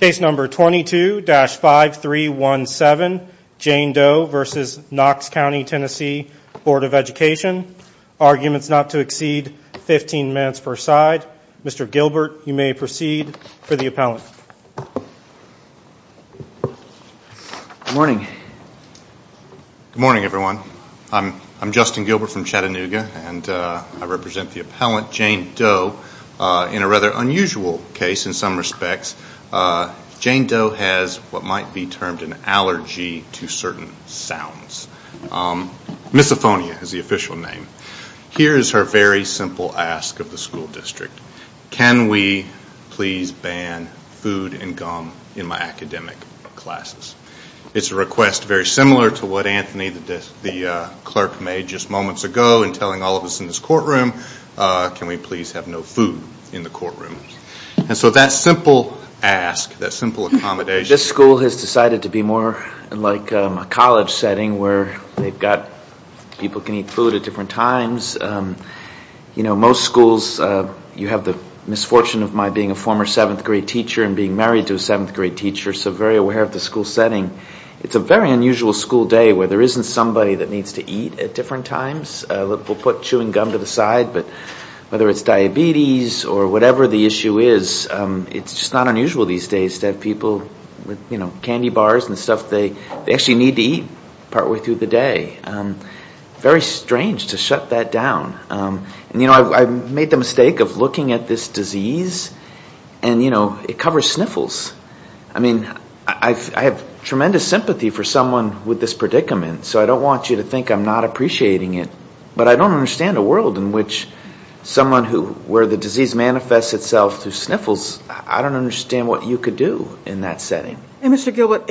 Case number 22-5317 Jane Doe v. Knox County TN Bd Education Arguments not to exceed 15 minutes per side. Mr. Gilbert you may proceed for the appellant. Good morning. Good morning everyone. I'm Justin Gilbert from Chattanooga and I represent the appellant Jane Doe in a rather unusual case in some respects. Jane Doe has what might be termed an allergy to certain sounds. Misophonia is the official name. Here is her very simple ask of the school district. Can we please ban food and gum in my academic classes? It's a request very similar to what Anthony the clerk made just moments ago in telling all of us in this courtroom. Can we please have no food in the courtroom? And so that simple ask, that simple accommodation. This school has decided to be more like a college setting where they've got people can eat food at different times. You know most schools you have the misfortune of my being a former seventh grade teacher and being married to a seventh grade teacher so very aware of the school setting. It's a very unusual school day where there isn't somebody that needs to eat at different times. We'll put chewing gum to the side but whether it's an issue is it's not unusual these days to have people with candy bars and stuff they actually need to eat partway through the day. Very strange to shut that down. You know I've made the mistake of looking at this disease and you know it covers sniffles. I mean I have tremendous sympathy for someone with this predicament so I don't want you to think I'm not appreciating it but I don't understand a world in which someone who where the disease manifests itself through sniffles I don't understand what you could do in that setting. And Mr. Gilbert,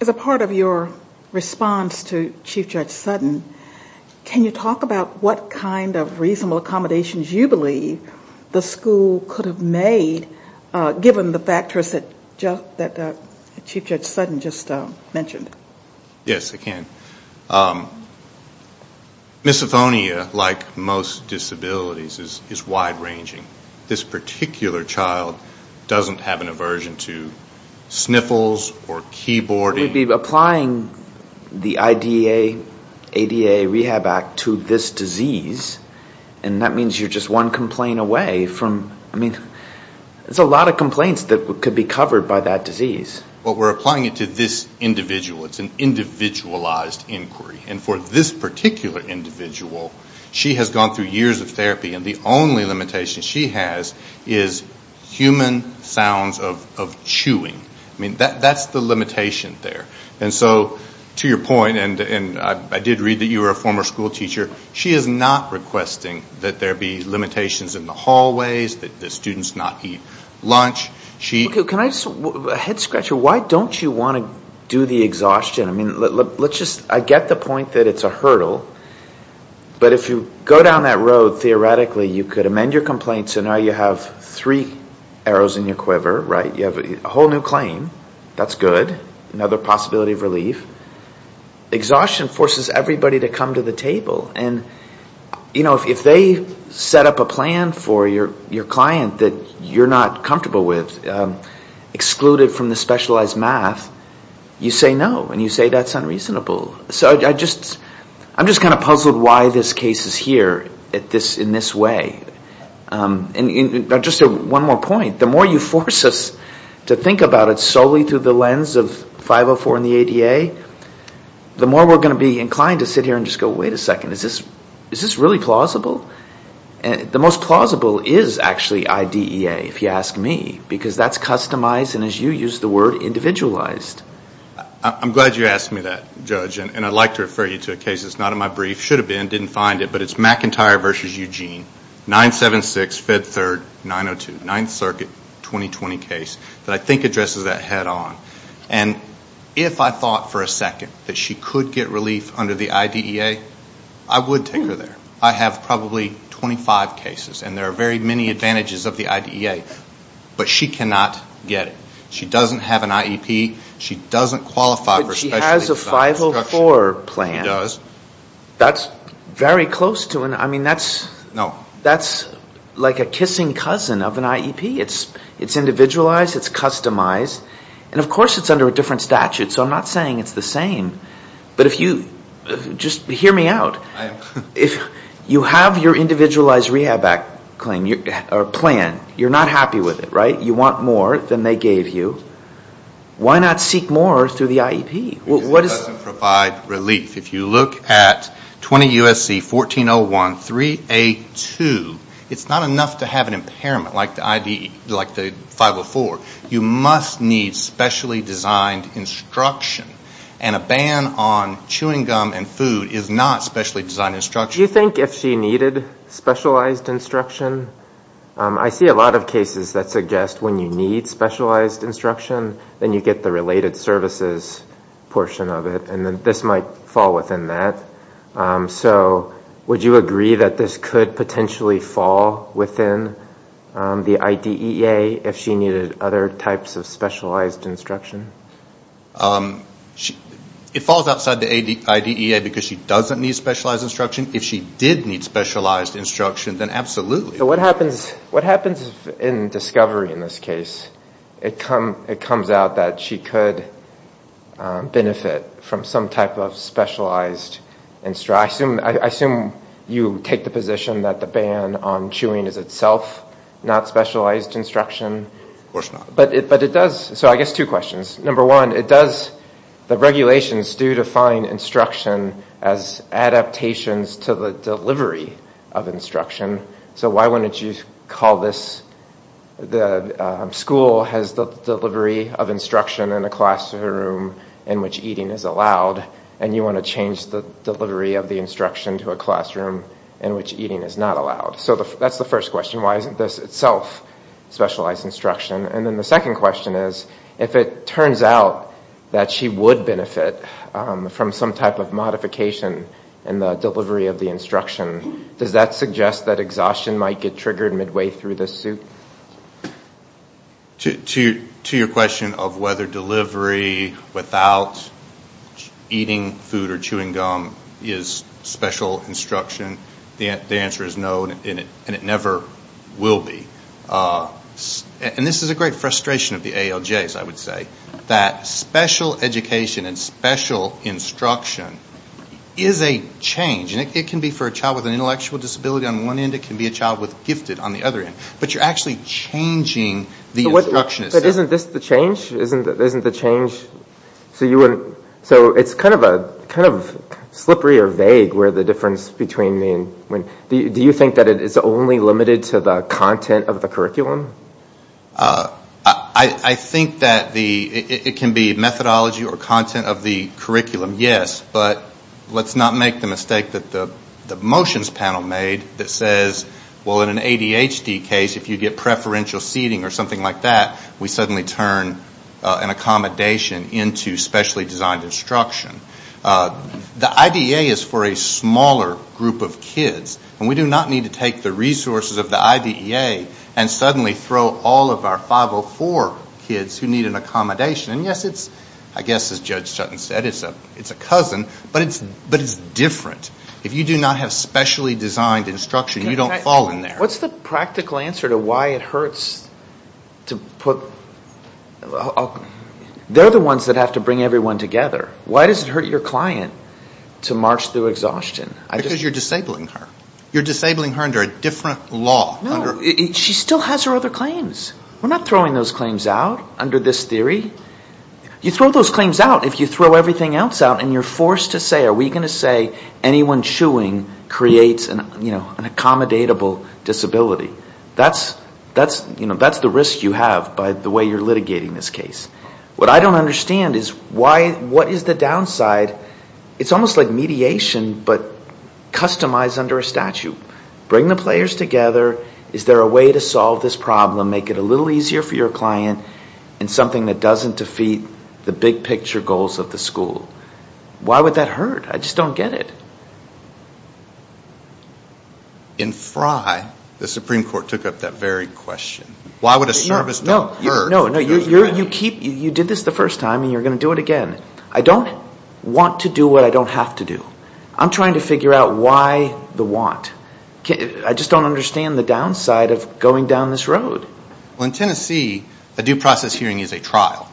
as a part of your response to Chief Judge Sutton can you talk about what kind of reasonable accommodations you believe the school could have made given the factors that Chief Judge Sutton just mentioned? Yes I can. Misophonia like most disabilities is wide-ranging. This particular child doesn't have an aversion to sniffles or keyboarding. We'd be applying the IDA, ADA Rehab Act to this disease and that means you're just one complaint away from I mean there's a lot of complaints that could be covered by that disease. But we're applying it to this individual. It's an individualized inquiry and for this particular individual she has gone through years of therapy and the only limitation she has is human sounds of chewing. I mean that that's the limitation there and so to your point and and I did read that you were a former school teacher she is not requesting that there be limitations in the hallways, that the students not eat lunch. Head-scratcher, why don't you want to do the exhaustion? I mean let's just I get the point that it's a hurdle but if you go down that road theoretically you could amend your complaint so now you have three arrows in your quiver, right? You have a whole new claim. That's good. Another possibility of relief. Exhaustion forces everybody to come to the table and you know if they set up a plan for your client that you're not comfortable with, excluded from the specialized math, you say no and you say that's unreasonable. So I just I'm just kind of puzzled why this case is here at this in this way. And just one more point, the more you force us to think about it solely through the lens of 504 and the ADA, the more we're going to be inclined to sit here and just go wait a second is this is this really plausible? And the most plausible is actually IDEA if you ask me because that's customized and as you use the word individualized. I'm glad you asked me that judge and I'd like to refer you to a case that's not in my brief, should have been, didn't find it, but it's McIntyre versus Eugene 976 Fed 3rd 902 9th Circuit 2020 case that I think addresses that head-on and if I thought for a second that she could get relief under the IDEA, I would take her there. I have probably 25 cases and there are very many advantages of the IDEA, but she cannot get it. She doesn't have an IEP, she doesn't qualify for specialized discussion. But she has a 504 plan. She does. That's very close to an I mean that's No. That's like a kissing cousin of an IEP. It's it's individualized, it's the same. But if you, just hear me out, if you have your individualized rehab act claim, or plan, you're not happy with it, right? You want more than they gave you. Why not seek more through the IEP? It doesn't provide relief. If you look at 20 USC 1401 3A2, it's not enough to have an impairment like the IDEA, like the 504. You must need specially designed instruction. And a ban on chewing gum and food is not specially designed instruction. Do you think if she needed specialized instruction? I see a lot of cases that suggest when you need specialized instruction, then you get the related services portion of it, and then this might fall within that. So would you agree that this could potentially fall within the IDEA if she needed other types of instruction? It falls outside the IDEA because she doesn't need specialized instruction. If she did need specialized instruction, then absolutely. So what happens in discovery in this case? It comes out that she could benefit from some type of specialized instruction. I assume you take the position that the ban on chewing is itself not specialized instruction? Of course not. But it does. So I guess two questions. Number one, it does, the regulations do define instruction as adaptations to the delivery of instruction. So why wouldn't you call this, the school has the delivery of instruction in a classroom in which eating is allowed, and you want to change the delivery of the instruction to a classroom in which eating is not allowed. So that's the first question. Why isn't this itself specialized instruction? And then the second question is, if it turns out that she would benefit from some type of modification in the delivery of the instruction, does that suggest that exhaustion might get triggered midway through the suit? To your question of whether delivery without eating food or chewing gum is special instruction, the answer is no, and it never will be. And this is a great frustration of the ALJs, I would say, that special education and special instruction is a change. And it can be for a child with an intellectual disability on one end, it can be a child with gifted on the other end. But you're actually changing the instruction itself. But isn't this the change? Isn't the change, so you wouldn't, so it's kind of vague where the difference between the, do you think that it's only limited to the content of the curriculum? I think that it can be methodology or content of the curriculum, yes. But let's not make the mistake that the motions panel made that says, well, in an ADHD case, if you get preferential seating or something like that, we suddenly turn an for a smaller group of kids. And we do not need to take the resources of the IDEA and suddenly throw all of our 504 kids who need an accommodation. And yes, it's, I guess, as Judge Sutton said, it's a cousin, but it's different. If you do not have specially designed instruction, you don't fall in there. What's the practical answer to why it hurts to put, they're the ones that have to go through exhaustion? Because you're disabling her. You're disabling her under a different law. She still has her other claims. We're not throwing those claims out under this theory. You throw those claims out if you throw everything else out and you're forced to say, are we going to say anyone chewing creates an, you know, an accommodatable disability. That's, you know, that's the risk you have by the way you're litigating this case. What I don't understand is why, what is the downside? It's almost like mediation, but customized under a statute. Bring the players together. Is there a way to solve this problem? Make it a little easier for your client and something that doesn't defeat the big picture goals of the school. Why would that hurt? I just don't get it. In Frye, the Supreme Court took up that very question. Why would a service not hurt? No, you did this the first time and you're going to do it again. I don't want to do what I don't have to do. I'm trying to figure out why the want. I just don't understand the downside of going down this road. Well, in Tennessee, a due process hearing is a trial.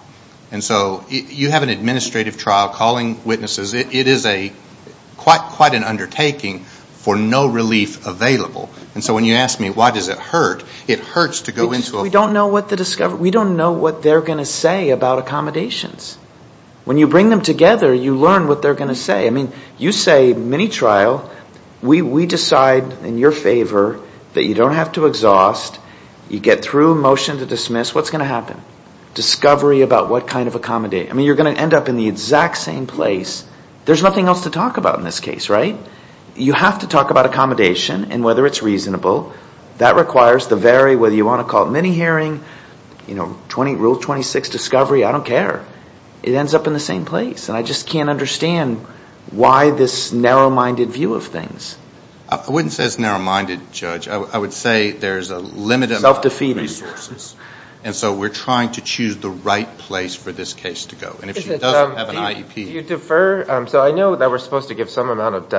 And so you have an administrative trial calling witnesses. It is quite an undertaking for no relief available. And so when you ask me why does it hurt, it hurts to go into a discovery. We don't know what they're going to say about accommodations. When you bring them together, you learn what they're going to say. I mean, you say mini trial. We decide in your favor that you don't have to exhaust. You get through a motion to dismiss. What's going to happen? Discovery about what kind of accommodate. I mean, you're going to end up in the exact same place. There's nothing else to talk about in this case, right? You have to talk about accommodation and whether it's reasonable. That requires the very, whether you want to call it mini hearing, rule 26 discovery, I don't care. It ends up in the same place. And I just can't understand why this narrow-minded view of things. I wouldn't say it's narrow-minded, Judge. I would say there's a limited amount of resources. Self-defeating. And so we're trying to choose the right place for this case to go. And if she doesn't have an IEP... Do you defer? So I know that we're supposed to give some amount of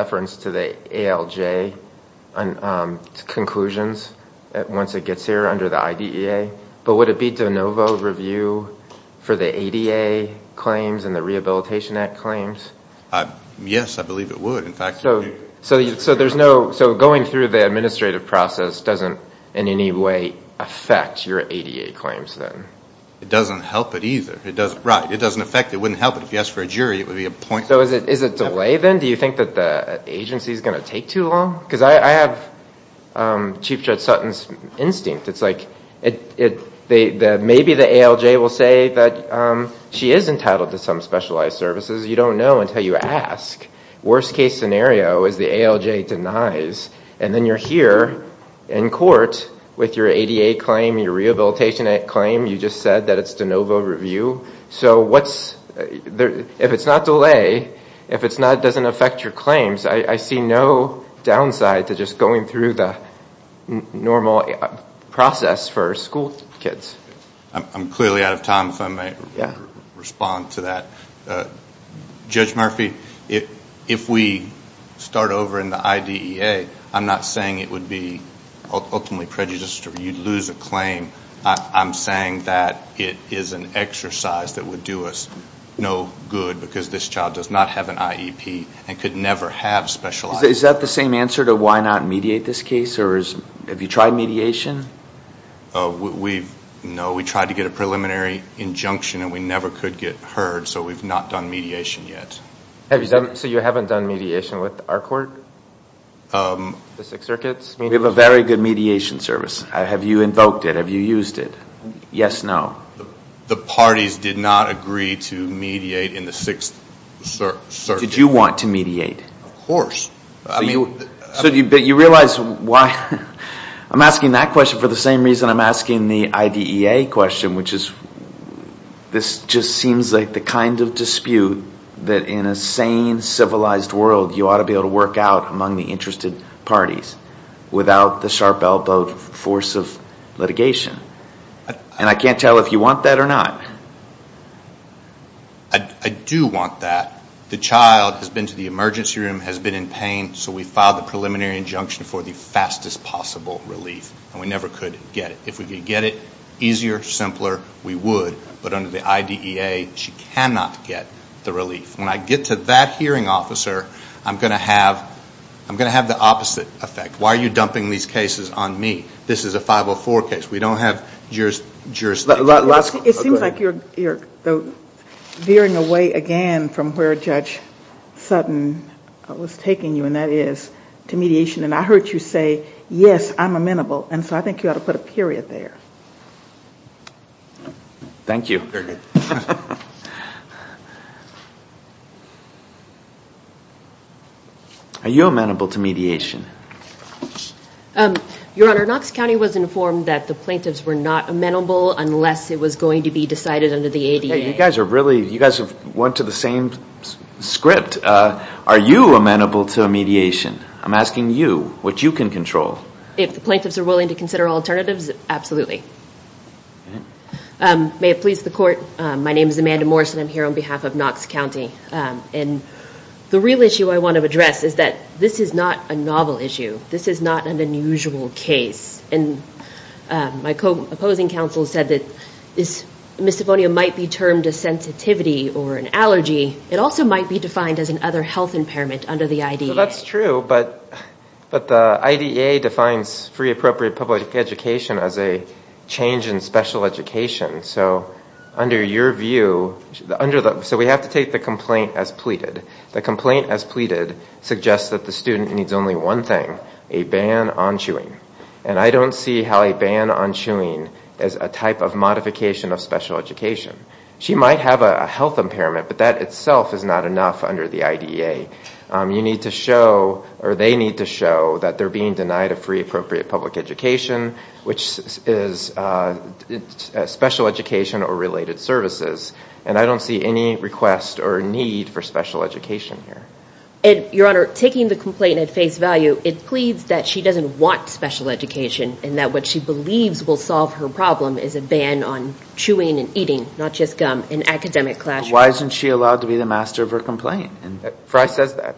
under the IDEA, but would it be de novo review for the ADA claims and the Rehabilitation Act claims? Yes, I believe it would, in fact. So there's no, so going through the administrative process doesn't in any way affect your ADA claims then? It doesn't help it either. It doesn't, right. It doesn't affect, it wouldn't help it. If you ask for a jury, it would be a point... Is it delay then? Do you think that the agency is going to take too long? Because I have Chief Judge Sutton's instinct. It's like, maybe the ALJ will say that she is entitled to some specialized services. You don't know until you ask. Worst case scenario is the ALJ denies, and then you're here in court with your ADA claim, your Rehabilitation Act claim, you just said that it's de novo review. So what's, if it's not delay, if it's not, it doesn't affect your claims. I see no downside to just going through the normal process for school kids. I'm clearly out of time if I may respond to that. Judge Murphy, if we start over in the IDEA, I'm not saying it would be ultimately prejudiced or you'd lose a claim. I'm saying that it is an exercise that would do us no good because this is the, is that the same answer to why not mediate this case? Or is, have you tried mediation? We've, no, we tried to get a preliminary injunction and we never could get heard, so we've not done mediation yet. Have you done, so you haven't done mediation with our court? The Sixth Circuit? We have a very good mediation service. Have you invoked it? Have you used it? Yes, no. The parties did not agree to mediate in the Sixth Circuit. Did you want to mediate? Of course. So you, but you realize why, I'm asking that question for the same reason I'm asking the IDEA question, which is, this just seems like the kind of dispute that in a sane, civilized world, you ought to be able to work out among the interested parties without the sharp-elbowed force of litigation. And I can't tell if you want that or not. I do want that. The child has been to the emergency room, has been in pain, so we filed the preliminary injunction for the fastest possible relief, and we never could get it. If we could get it, easier, simpler, we would, but under the IDEA, she cannot get the relief. When I get to that hearing officer, I'm going to have, I'm going to have the opposite effect. Why are you dumping these cases on me? This is a 504 case. We don't have jurisdiction. It seems like you're veering away again from where Judge Sutton was taking you, and that is to mediation. And I heard you say, yes, I'm amenable, and so I think you ought to put a period there. Thank you. Are you amenable to mediation? Your Honor, Knox County was informed that the plaintiffs were willing to consider alternatives, unless it was going to be decided under the IDEA. You guys are really, you guys have went to the same script. Are you amenable to mediation? I'm asking you, what you can control. If the plaintiffs are willing to consider alternatives, absolutely. May it please the Court, my name is Amanda Morris, and I'm here on behalf of Knox County. And the real issue I want to address is that this is not a novel issue. This is not an unusual case, and my opposing counsel said that this misophonia might be termed a sensitivity or an allergy. It also might be defined as an other health impairment under the IDEA. That's true, but the IDEA defines free appropriate public education as a change in special education. So under your view, under the, so we have to take the complaint as pleaded. The complaint as pleaded suggests that the student needs only one thing, a ban on chewing. And I don't see how a ban on chewing as a type of modification of special education. She might have a health impairment, but that itself is not enough under the IDEA. You need to show, or they need to show, that they're being denied a free appropriate public education, which is special education or related services. And I don't see any request or need for a complaint at face value. It pleads that she doesn't want special education and that what she believes will solve her problem is a ban on chewing and eating, not just gum, in academic classrooms. Why isn't she allowed to be the master of her complaint? Fry says that.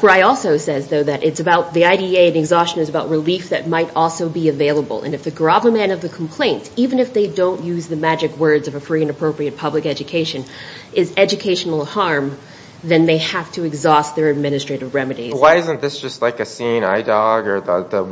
Fry also says, though, that it's about the IDEA and exhaustion is about relief that might also be available. And if the grabber man of the complaint, even if they don't use the magic words of a free and appropriate public education, is Why isn't this just like a seeing eye dog or the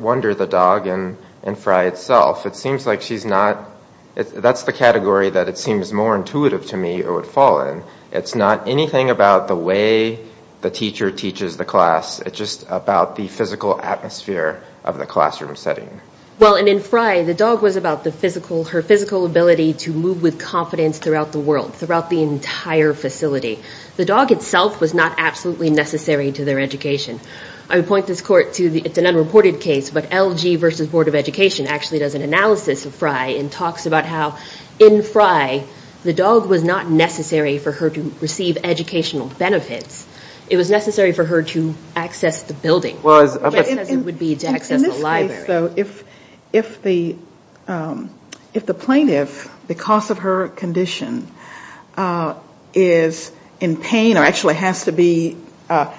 wonder the dog in Fry itself? It seems like she's not, that's the category that it seems more intuitive to me or would fall in. It's not anything about the way the teacher teaches the class. It's just about the physical atmosphere of the classroom setting. Well, and in Fry, the dog was about the physical, her physical ability to move with confidence throughout the world, throughout the entire facility. The dog itself was not absolutely necessary to their education. I would point this court to, it's an unreported case, but LG versus Board of Education actually does an analysis of Fry and talks about how in Fry, the dog was not necessary for her to receive educational benefits. It was necessary for her to access the building, just as it would be to access the library. In this case, though, if the plaintiff, because of her condition, is in pain or actually has to be out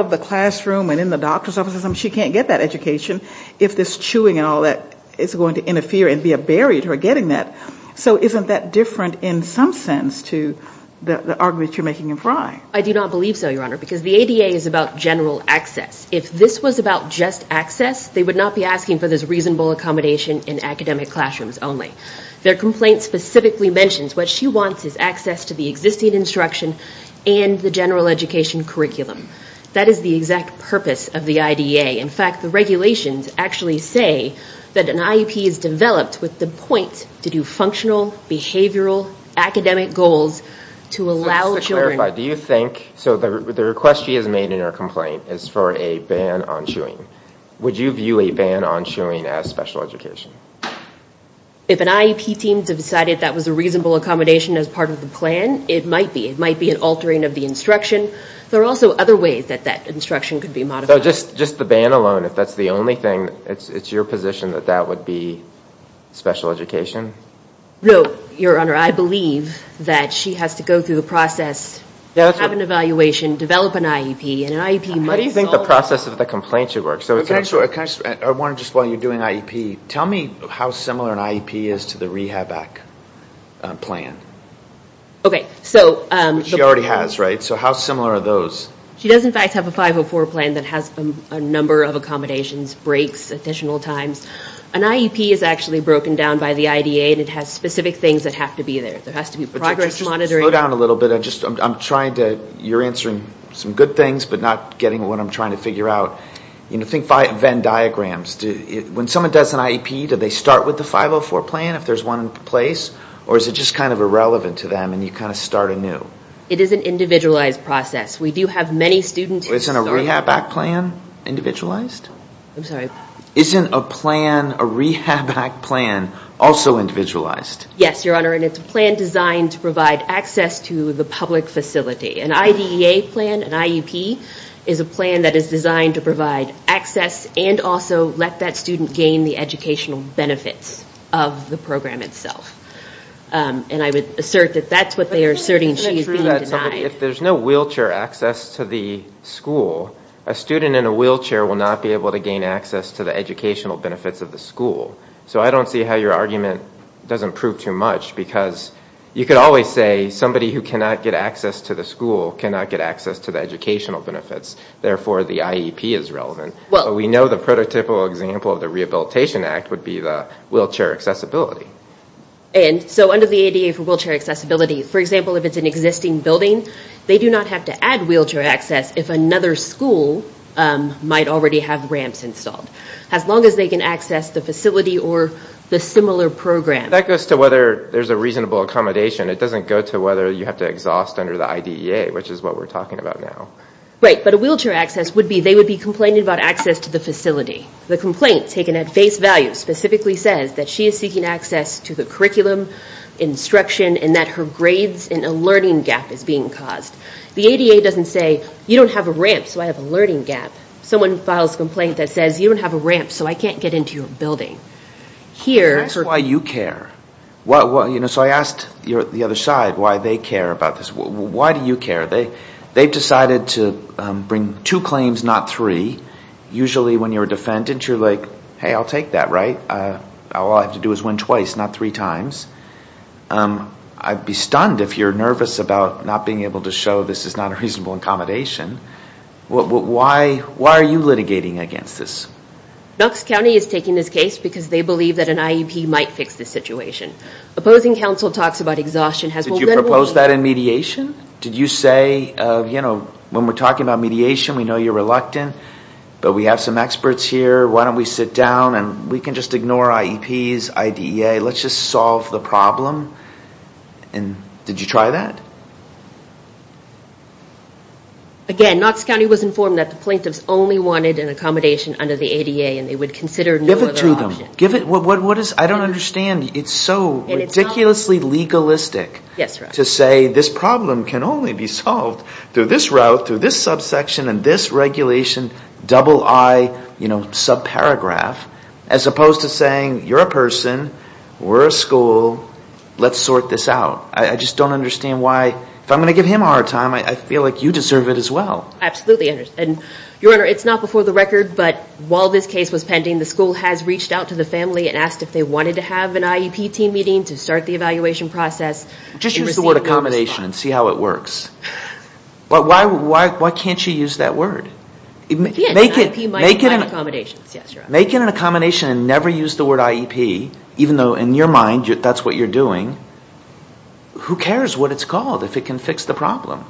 of the classroom and in the doctor's office or something, she can't get that education if this chewing and all that is going to interfere and be a barrier to her getting that. So isn't that different in some sense to the argument you're making in Fry? I do not believe so, Your Honor, because the ADA is about general access. If this was about just access, they would not be asking for this reasonable accommodation in academic classrooms only. Their complaint specifically mentions what she wants is access to the existing instruction and the general education curriculum. That is the exact purpose of the IDEA. In fact, the regulations actually say that an IEP is developed with the point to do functional, behavioral, academic goals to allow children... Just to clarify, do you think, so the request she has made in her complaint is for a ban on chewing. Would you view a ban on chewing as special education? If an IEP team decided that was a reasonable accommodation as part of the plan, it might be. It might be an altering of the instruction. There are also other ways that that instruction could be modified. So just the ban alone, if that's the only thing, it's your position that that would be special education? No, Your Honor. I believe that she has to go through the process, have an evaluation, develop an IEP, and an IEP might solve... How do you think the process of the complaint should work? I want to just while you're doing IEP, tell me how similar an IEP is to the Rehab Act plan. Okay, so... Which she already has, right? So how similar are those? She does, in fact, have a 504 plan that has a number of accommodations, breaks, additional times. An IEP is actually broken down by the IDEA and it has specific things that have to be there. There has to be progress monitoring... Slow down a little bit. I'm trying to... You're answering some good things, but not getting what I'm trying to figure out. Think Venn diagrams. When someone does an IEP, do they start with the 504 plan if there's one in place, or is it just kind of irrelevant to them and you kind of start anew? It is an individualized process. We do have many students... Isn't a Rehab Act plan individualized? I'm sorry? Isn't a plan, a Rehab Act plan, also individualized? Yes, Your Honor, and it's a plan designed to provide access to the public facility. An IDEA plan, an IEP, is a plan that is designed to provide access and also let that student gain the educational benefits of the program itself. And I would assert that that's what they are asserting. She is being denied. If there's no wheelchair access to the school, a student in a wheelchair will not be able to gain access to the educational benefits of the school. So I don't see how your argument doesn't prove too much, because you could always say somebody who cannot get access to the school cannot get access to the educational benefits. Therefore, the IEP is relevant. We know the prototypical example of the Rehabilitation Act would be the wheelchair accessibility. And so under the ADA for wheelchair accessibility, for example, if it's an existing building, they do not have to add wheelchair access if another school might already have ramps installed, as long as they can access the facility or the similar program. That goes to whether there's a reasonable accommodation. It doesn't go to whether you have to exhaust under the IDEA, which is what we're talking about now. Right. But a wheelchair access would be they would be complaining about access to the facility. The complaint taken at face value specifically says that she is seeking access to the curriculum, instruction, and that her grades and a learning gap is being caused. The ADA doesn't say, you don't have a ramp, so I have a learning gap. Someone files a complaint that says, you don't have a ramp, so I can't get into your building. That's why you care. So I asked the other side why they care about this. Why do you care? They've decided to bring two claims, not three. Usually when you're a defendant, you're like, hey, I'll take that, right? All I have to do is win twice, not three times. I'd be stunned if you're nervous about not being able to show this is not a reasonable accommodation. Why are you litigating against this? Knox County is taking this case because they believe that an IEP might fix this situation. Opposing counsel talks about exhaustion. Did you propose that in mediation? Did you say, you know, when we're talking about mediation, we know you're reluctant, but we have some experts here. Why don't we sit down and we can just ignore IEPs, IDEA. Let's just solve the problem. And did you try that? Again, Knox County was informed that the plaintiffs only wanted an accommodation under the ADA and they would consider no other option. Give it to them. I don't understand. It's so ridiculously legalistic to say this problem can only be solved through this route, through this subsection and this regulation, double I, you know, subparagraph, as opposed to saying, you're a person, we're a school, let's sort this out. I just don't understand why, if I'm going to give him a hard time, I feel like you deserve it as well. I absolutely understand. Your Honor, it's not before the record, but while this case was pending, the school has reached out to the family and asked if they wanted to have an IEP team meeting to start the evaluation process. Just use the word accommodation and see how it works. Why can't you use that word? Make it an accommodation and never use the word IEP, even though in your mind that's what you're doing, who cares what it's called if it can fix the problem?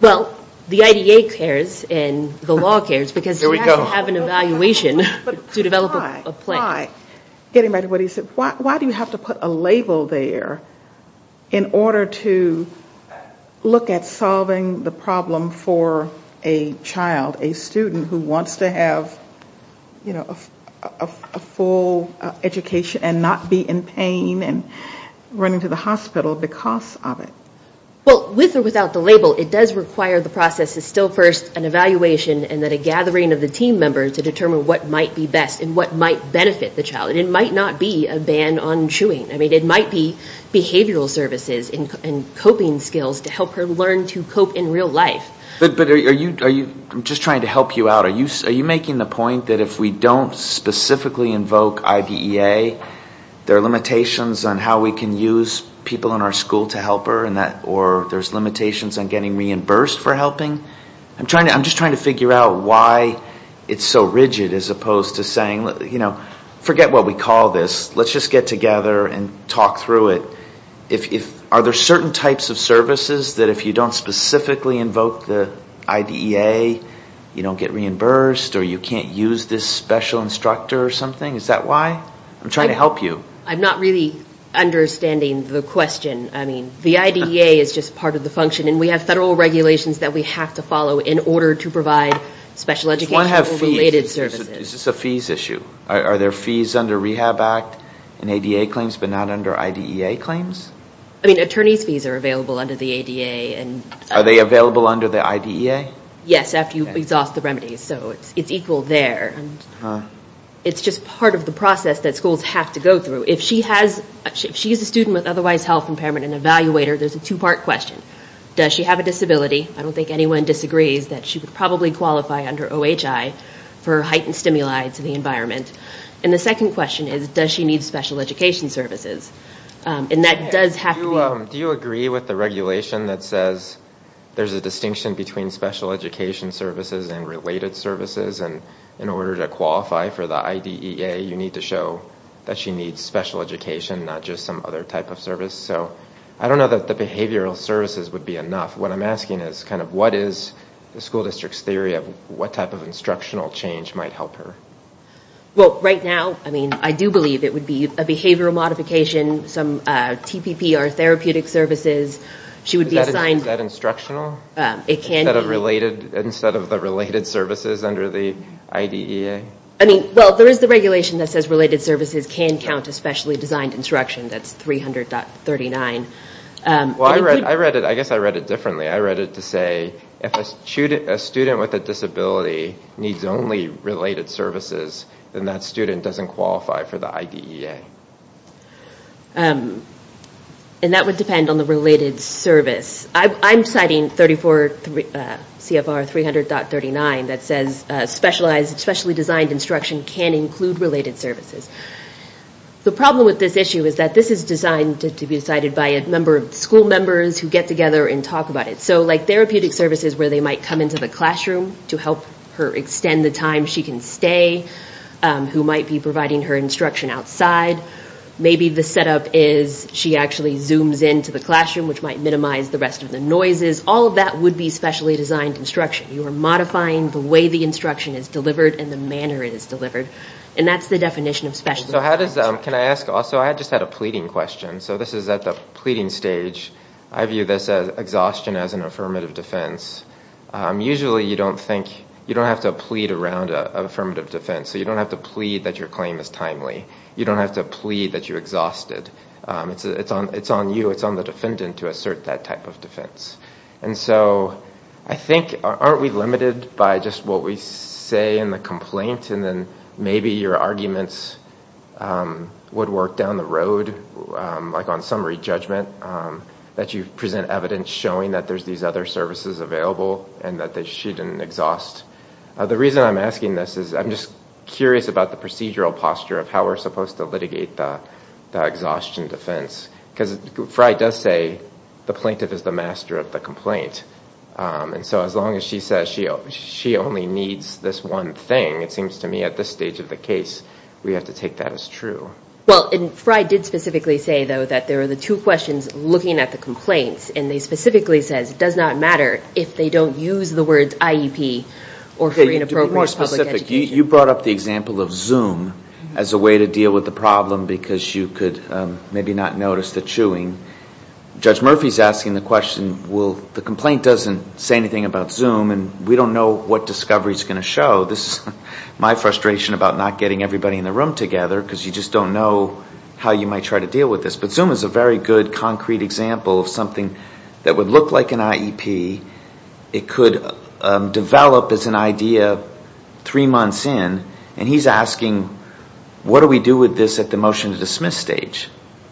Well, the IDA cares and the law cares because they have to have an evaluation to develop a plan. Why, getting back to what he said, why do you have to put a label there in order to look at solving the problem for a child, a student who wants to have, you know, a full education and not be in pain and running to the hospital because of it? Well, with or without the label, it does require the process is still first an evaluation and that a gathering of the team members to determine what might be best and what might benefit the child. It might not be a ban on chewing. I mean, it might be behavioral services and coping skills to help her learn to cope in real life. But are you, I'm just trying to help you out, are you making the point that if we don't specifically invoke IDEA, there are limitations on how we can use people in our school to help her or there's limitations on getting reimbursed for helping? I'm just trying to figure out why it's so rigid as opposed to saying, you know, forget what we call this, let's just get together and talk through it. Are there certain types of services that if you don't specifically invoke the IDEA, you don't get reimbursed or you can't use this special instructor or something? Is that why? I'm trying to help you. I'm not really understanding the question. I mean, the IDEA is just part of the function and we have federal regulations that we have to follow in order to provide special education or related services. Does one have fees? Is this a fees issue? Are there fees under Rehab Act and ADA claims but not under IDEA claims? I mean, attorney's fees are available under the ADA and... Are they available under the IDEA? Yes, after you exhaust the remedies. So it's equal there. It's just part of the process that schools have to go through. If she has, if she's a student with otherwise health impairment and evaluator, there's a two-part question. Does she have a disability? I don't think anyone disagrees that she would probably qualify under OHI for heightened stimuli to the environment. And the second question is, does she need special education services? And that does have to be... Do you agree with the regulation that says there's a distinction between special education services and related services? And in order to qualify for the IDEA, you need to show that she needs special education, not just some other type of service. So I don't know that the behavioral services would be enough. What I'm asking is kind of what is the school district's theory of what type of instructional change might help her? Well, right now, I mean, I do believe it would be a behavioral modification, some TPP or therapeutic services. She would be assigned... Is that instructional? It can be. Instead of related, instead of the related services under the IDEA? I mean, well, there is the regulation that says related services can count especially designed instruction. That's 300.39. Well, I read it, I guess I read it differently. I read it to say, if a student with a disability needs only related services, then that student doesn't qualify for the IDEA. And that would depend on the related service. I'm citing 34 CFR 300.39 that says specialized, specially designed instruction can include related services. The problem with this issue is that this is designed to be decided by a number of school members who get together and talk about it. So like therapeutic services where they might come into the classroom to help her extend the time she can stay, who might be providing her instruction outside. Maybe the setup is she actually zooms into the classroom which might minimize the rest of the noises. All of that would be specially designed instruction. You are modifying the way the instruction is delivered and the manner it is delivered. And that's the definition of specially designed instruction. Can I ask also, I just had a pleading question. So this is at the pleading stage. I view this as exhaustion as an affirmative defense. Usually you don't think, you don't have to plead around affirmative defense. So you don't have to plead that your claim is timely. You don't have to plead that you're exhausted. It's on you, it's on the defendant to assert that type of defense. And so I think, aren't we limited by just what we say in the complaint and then maybe your arguments would work down the road like on summary judgment that you present evidence showing that there's these other services available and that she didn't do this. I'm just curious about the procedural posture of how we're supposed to litigate the exhaustion defense. Because Frye does say the plaintiff is the master of the complaint. And so as long as she says she only needs this one thing, it seems to me at this stage of the case, we have to take that as true. Well, Frye did specifically say though that there are the two questions looking at the complaints and they specifically says it does not matter if they don't use the words IEP or free and appropriate public education. You brought up the example of Zoom as a way to deal with the problem because you could maybe not notice the chewing. Judge Murphy is asking the question, well, the complaint doesn't say anything about Zoom and we don't know what discovery is going to show. This is my frustration about not getting everybody in the room together because you just don't know how you might try to deal with this. But Zoom is a very good concrete example of something that would look like an IEP. It could develop as an idea three months in and he's asking what do we do with this at the motion to dismiss stage?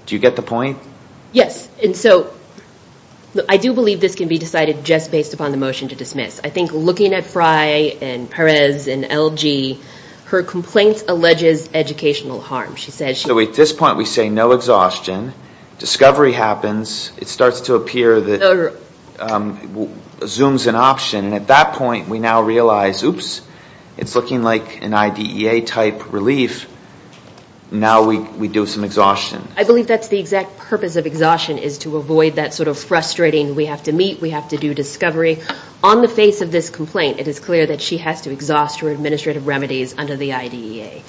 Do you get the point? Yes. And so I do believe this can be decided just based upon the motion to dismiss. I think looking at Frye and Perez and LG, her complaint alleges educational harm. At this point we say no exhaustion. Discovery happens. It starts to appear that Zoom is an option. At that point we now realize, oops, it's looking like an IDEA type relief. Now we do some exhaustion. I believe that's the exact purpose of exhaustion is to avoid that sort of frustrating we have to meet, we have to do discovery. On the face of this complaint, it is clear that she has to exhaust her administrative remedies under the IDEA.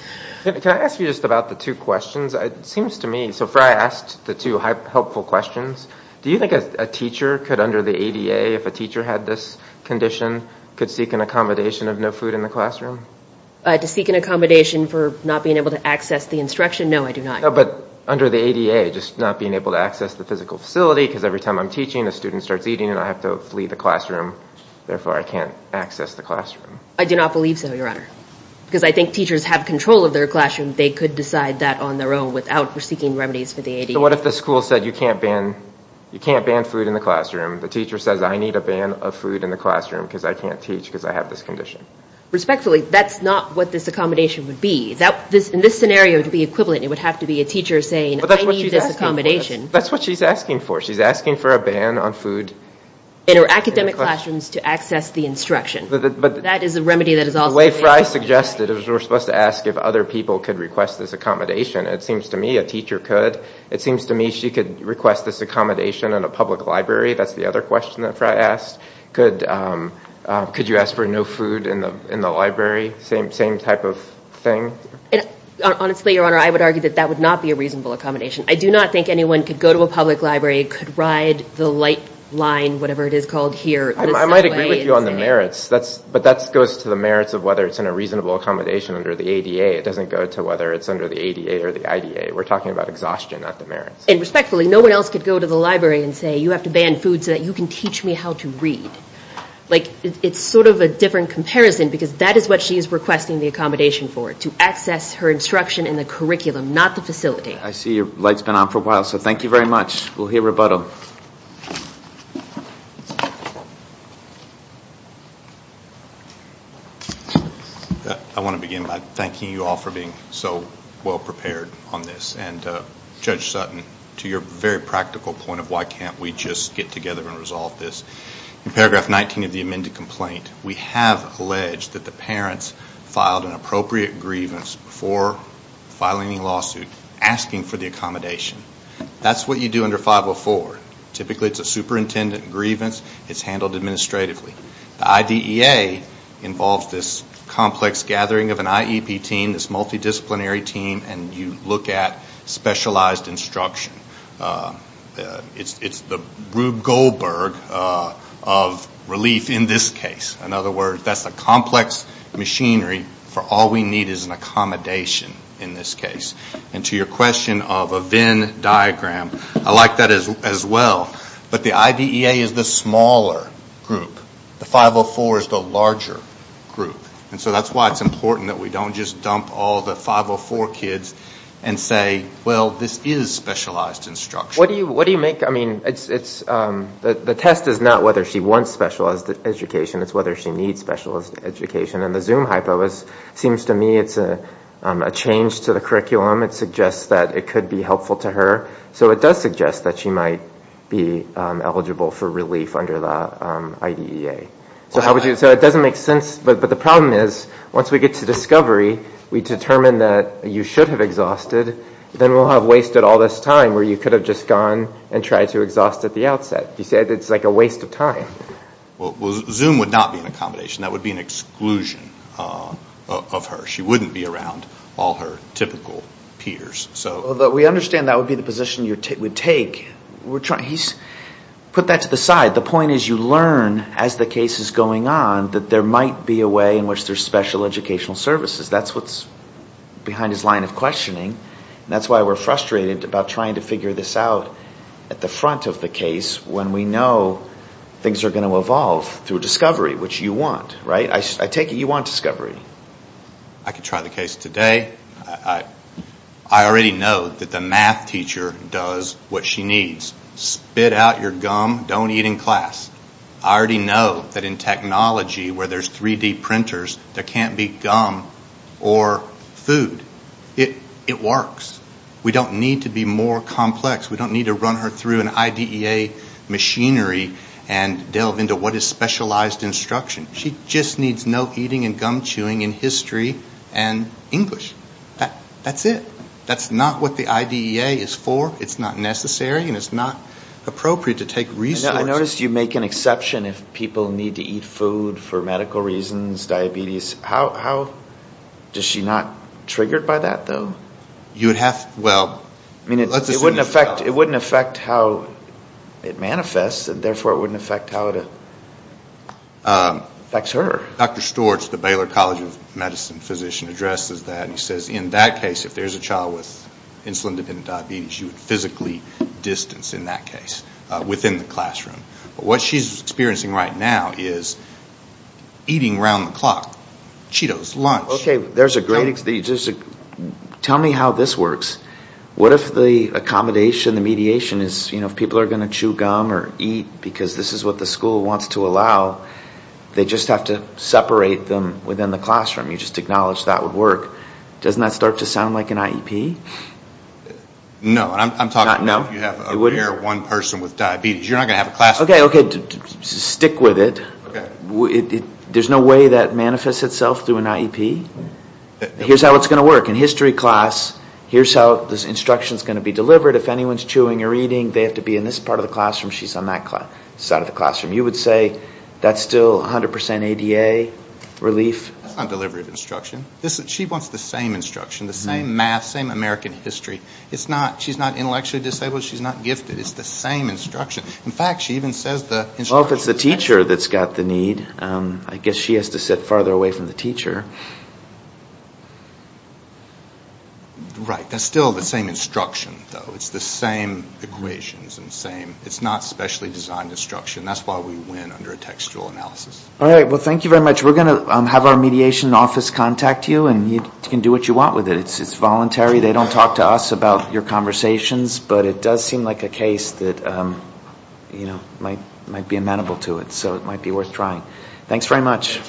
Can I ask you just about the two questions? It seems to me, so Frye asked the two helpful questions. Do you think a teacher could under the ADA, if a teacher had this condition, could seek an accommodation of no food in the classroom? To seek an accommodation for not being able to access the instruction? No, I do not. But under the ADA, just not being able to access the physical facility because every time I'm teaching, a student starts eating and I have to flee the classroom, therefore I can't access the classroom. I do not believe so, Your Honor, because I think teachers have control of their classroom. They could decide that on their own without seeking remedies for the ADA. What if the school said, you can't ban food in the classroom, the teacher says, I need a ban of food in the classroom because I can't teach because I have this condition? Respectfully, that's not what this accommodation would be. In this scenario to be equivalent, it would have to be a teacher saying, I need this accommodation. That's what she's asking for. She's asking for a ban on food. In her academic classrooms to access the instruction. That is a remedy that is also... The way Fry suggested is we're supposed to ask if other people could request this accommodation. It seems to me a teacher could. It seems to me she could request this accommodation in a public library. That's the other question that Fry asked. Could you ask for no food in the library? Same type of thing? Honestly, Your Honor, I would argue that that would not be a reasonable accommodation. I do not think anyone could go to a public library, could ride the light line, whatever it is called here. I might agree with you on the merits. But that goes to the merits of whether it's in a reasonable accommodation under the ADA. It doesn't go to whether it's under the ADA or the IDA. We're talking about exhaustion, not the merits. And respectfully, no one else could go to the library and say, you have to ban food so that you can teach me how to read. It's sort of a different comparison because that is what she is requesting the accommodation for, to access her instruction in the curriculum, not the facility. I see your light's been on for a while. So thank you very much. We'll hear rebuttal. Thank you, Your Honor. I want to begin by thanking you all for being so well prepared on this. And Judge Sutton, to your very practical point of why can't we just get together and resolve this, in paragraph 19 of the amended complaint, we have alleged that the parents filed an appropriate grievance before filing any lawsuit asking for the accommodation. That's what you do under 504. Typically it's a superintendent grievance. It's handled administratively. The IDEA involves this complex gathering of an IEP team, this multidisciplinary team, and you look at specialized instruction. It's the Rube Goldberg of relief in this case. In other words, that's a complex machinery for all we need is an accommodation in this case. And to your question of a Venn diagram, I like that as well, but the IDEA is the smaller group. The 504 is the larger group. And so that's why it's important that we don't just dump all the 504 kids and say, well, this is specialized instruction. What do you make? I mean, the test is not whether she wants specialized education, it's whether she needs specialized education. And the Zoom hypo seems to me it's a change to the curriculum. It suggests that it could be helpful to her. So it does suggest that she might be eligible for relief under the IDEA. So it doesn't make sense, but the problem is once we get to discovery, we determine that you should have exhausted, then we'll have wasted all this time where you could have just gone and tried to exhaust at the outset. You said it's like a waste of time. Well, Zoom would not be an accommodation. That would be an exclusion of her. She wouldn't be around all her typical peers. We understand that would be the position you would take. Put that to the side. The point is you learn as the case is going on that there might be a way in which there's special educational services. That's what's behind his line of questioning. That's why we're frustrated about trying to figure this out at the front of the case when we know things are going to evolve through discovery, which you want, right? I take it you want discovery. I could try the case today. I already know that the math teacher does what she needs, spit out your gum, don't eat in class. I already know that in technology where there's 3D printers, there can't be gum or food. It works. We don't need to be more complex. We don't need to run her through an IDEA machinery and delve into what is specialized instruction. She just needs no eating and gum chewing in history and English. That's it. That's not what the IDEA is for. It's not necessary. It's not appropriate to take resources. I noticed you make an exception if people need to eat food for medical reasons, diabetes. Is she not triggered by that, though? It wouldn't affect how it manifests and therefore it wouldn't affect how it affects her. Dr. Storch, the Baylor College of Medicine physician, addresses that and he says in that case if there's a child with insulin-dependent diabetes, you would physically distance in that case within the classroom. What she's experiencing right now is eating around the clock, Cheetos, lunch. Tell me how this works. What if the accommodation, the mediation, if people are going to chew gum or eat because this is what the school wants to allow, they just have to separate them within the classroom. You just acknowledge that would work. Doesn't that start to sound like an IEP? No. I'm talking about if you have one person with diabetes. You're not going to have a classroom. Stick with it. There's no way that manifests itself through an IEP? Here's how it's going to work. In history class, here's how this instruction is going to be delivered. If anyone's chewing or eating, they have to be in this part of the classroom. She's on that side of the classroom. You would say that's still 100% ADA relief? That's not delivery of instruction. She wants the same instruction, the same math, same American history. She's not intellectually disabled. She's not gifted. It's the same instruction. In fact, she even says the instruction is the same. If it's the teacher that's got the need, I guess she has to sit farther away from the teacher. Right. That's still the same instruction, though. It's the same equations. It's not specially designed instruction. That's why we win under a textual analysis. All right. Well, thank you very much. We're going to have our mediation office contact you, and you can do what you want with it. It's voluntary. They don't talk to us about your conversations, but it does seem like a case that might be amenable to it, so it might be worth trying. Thanks very much.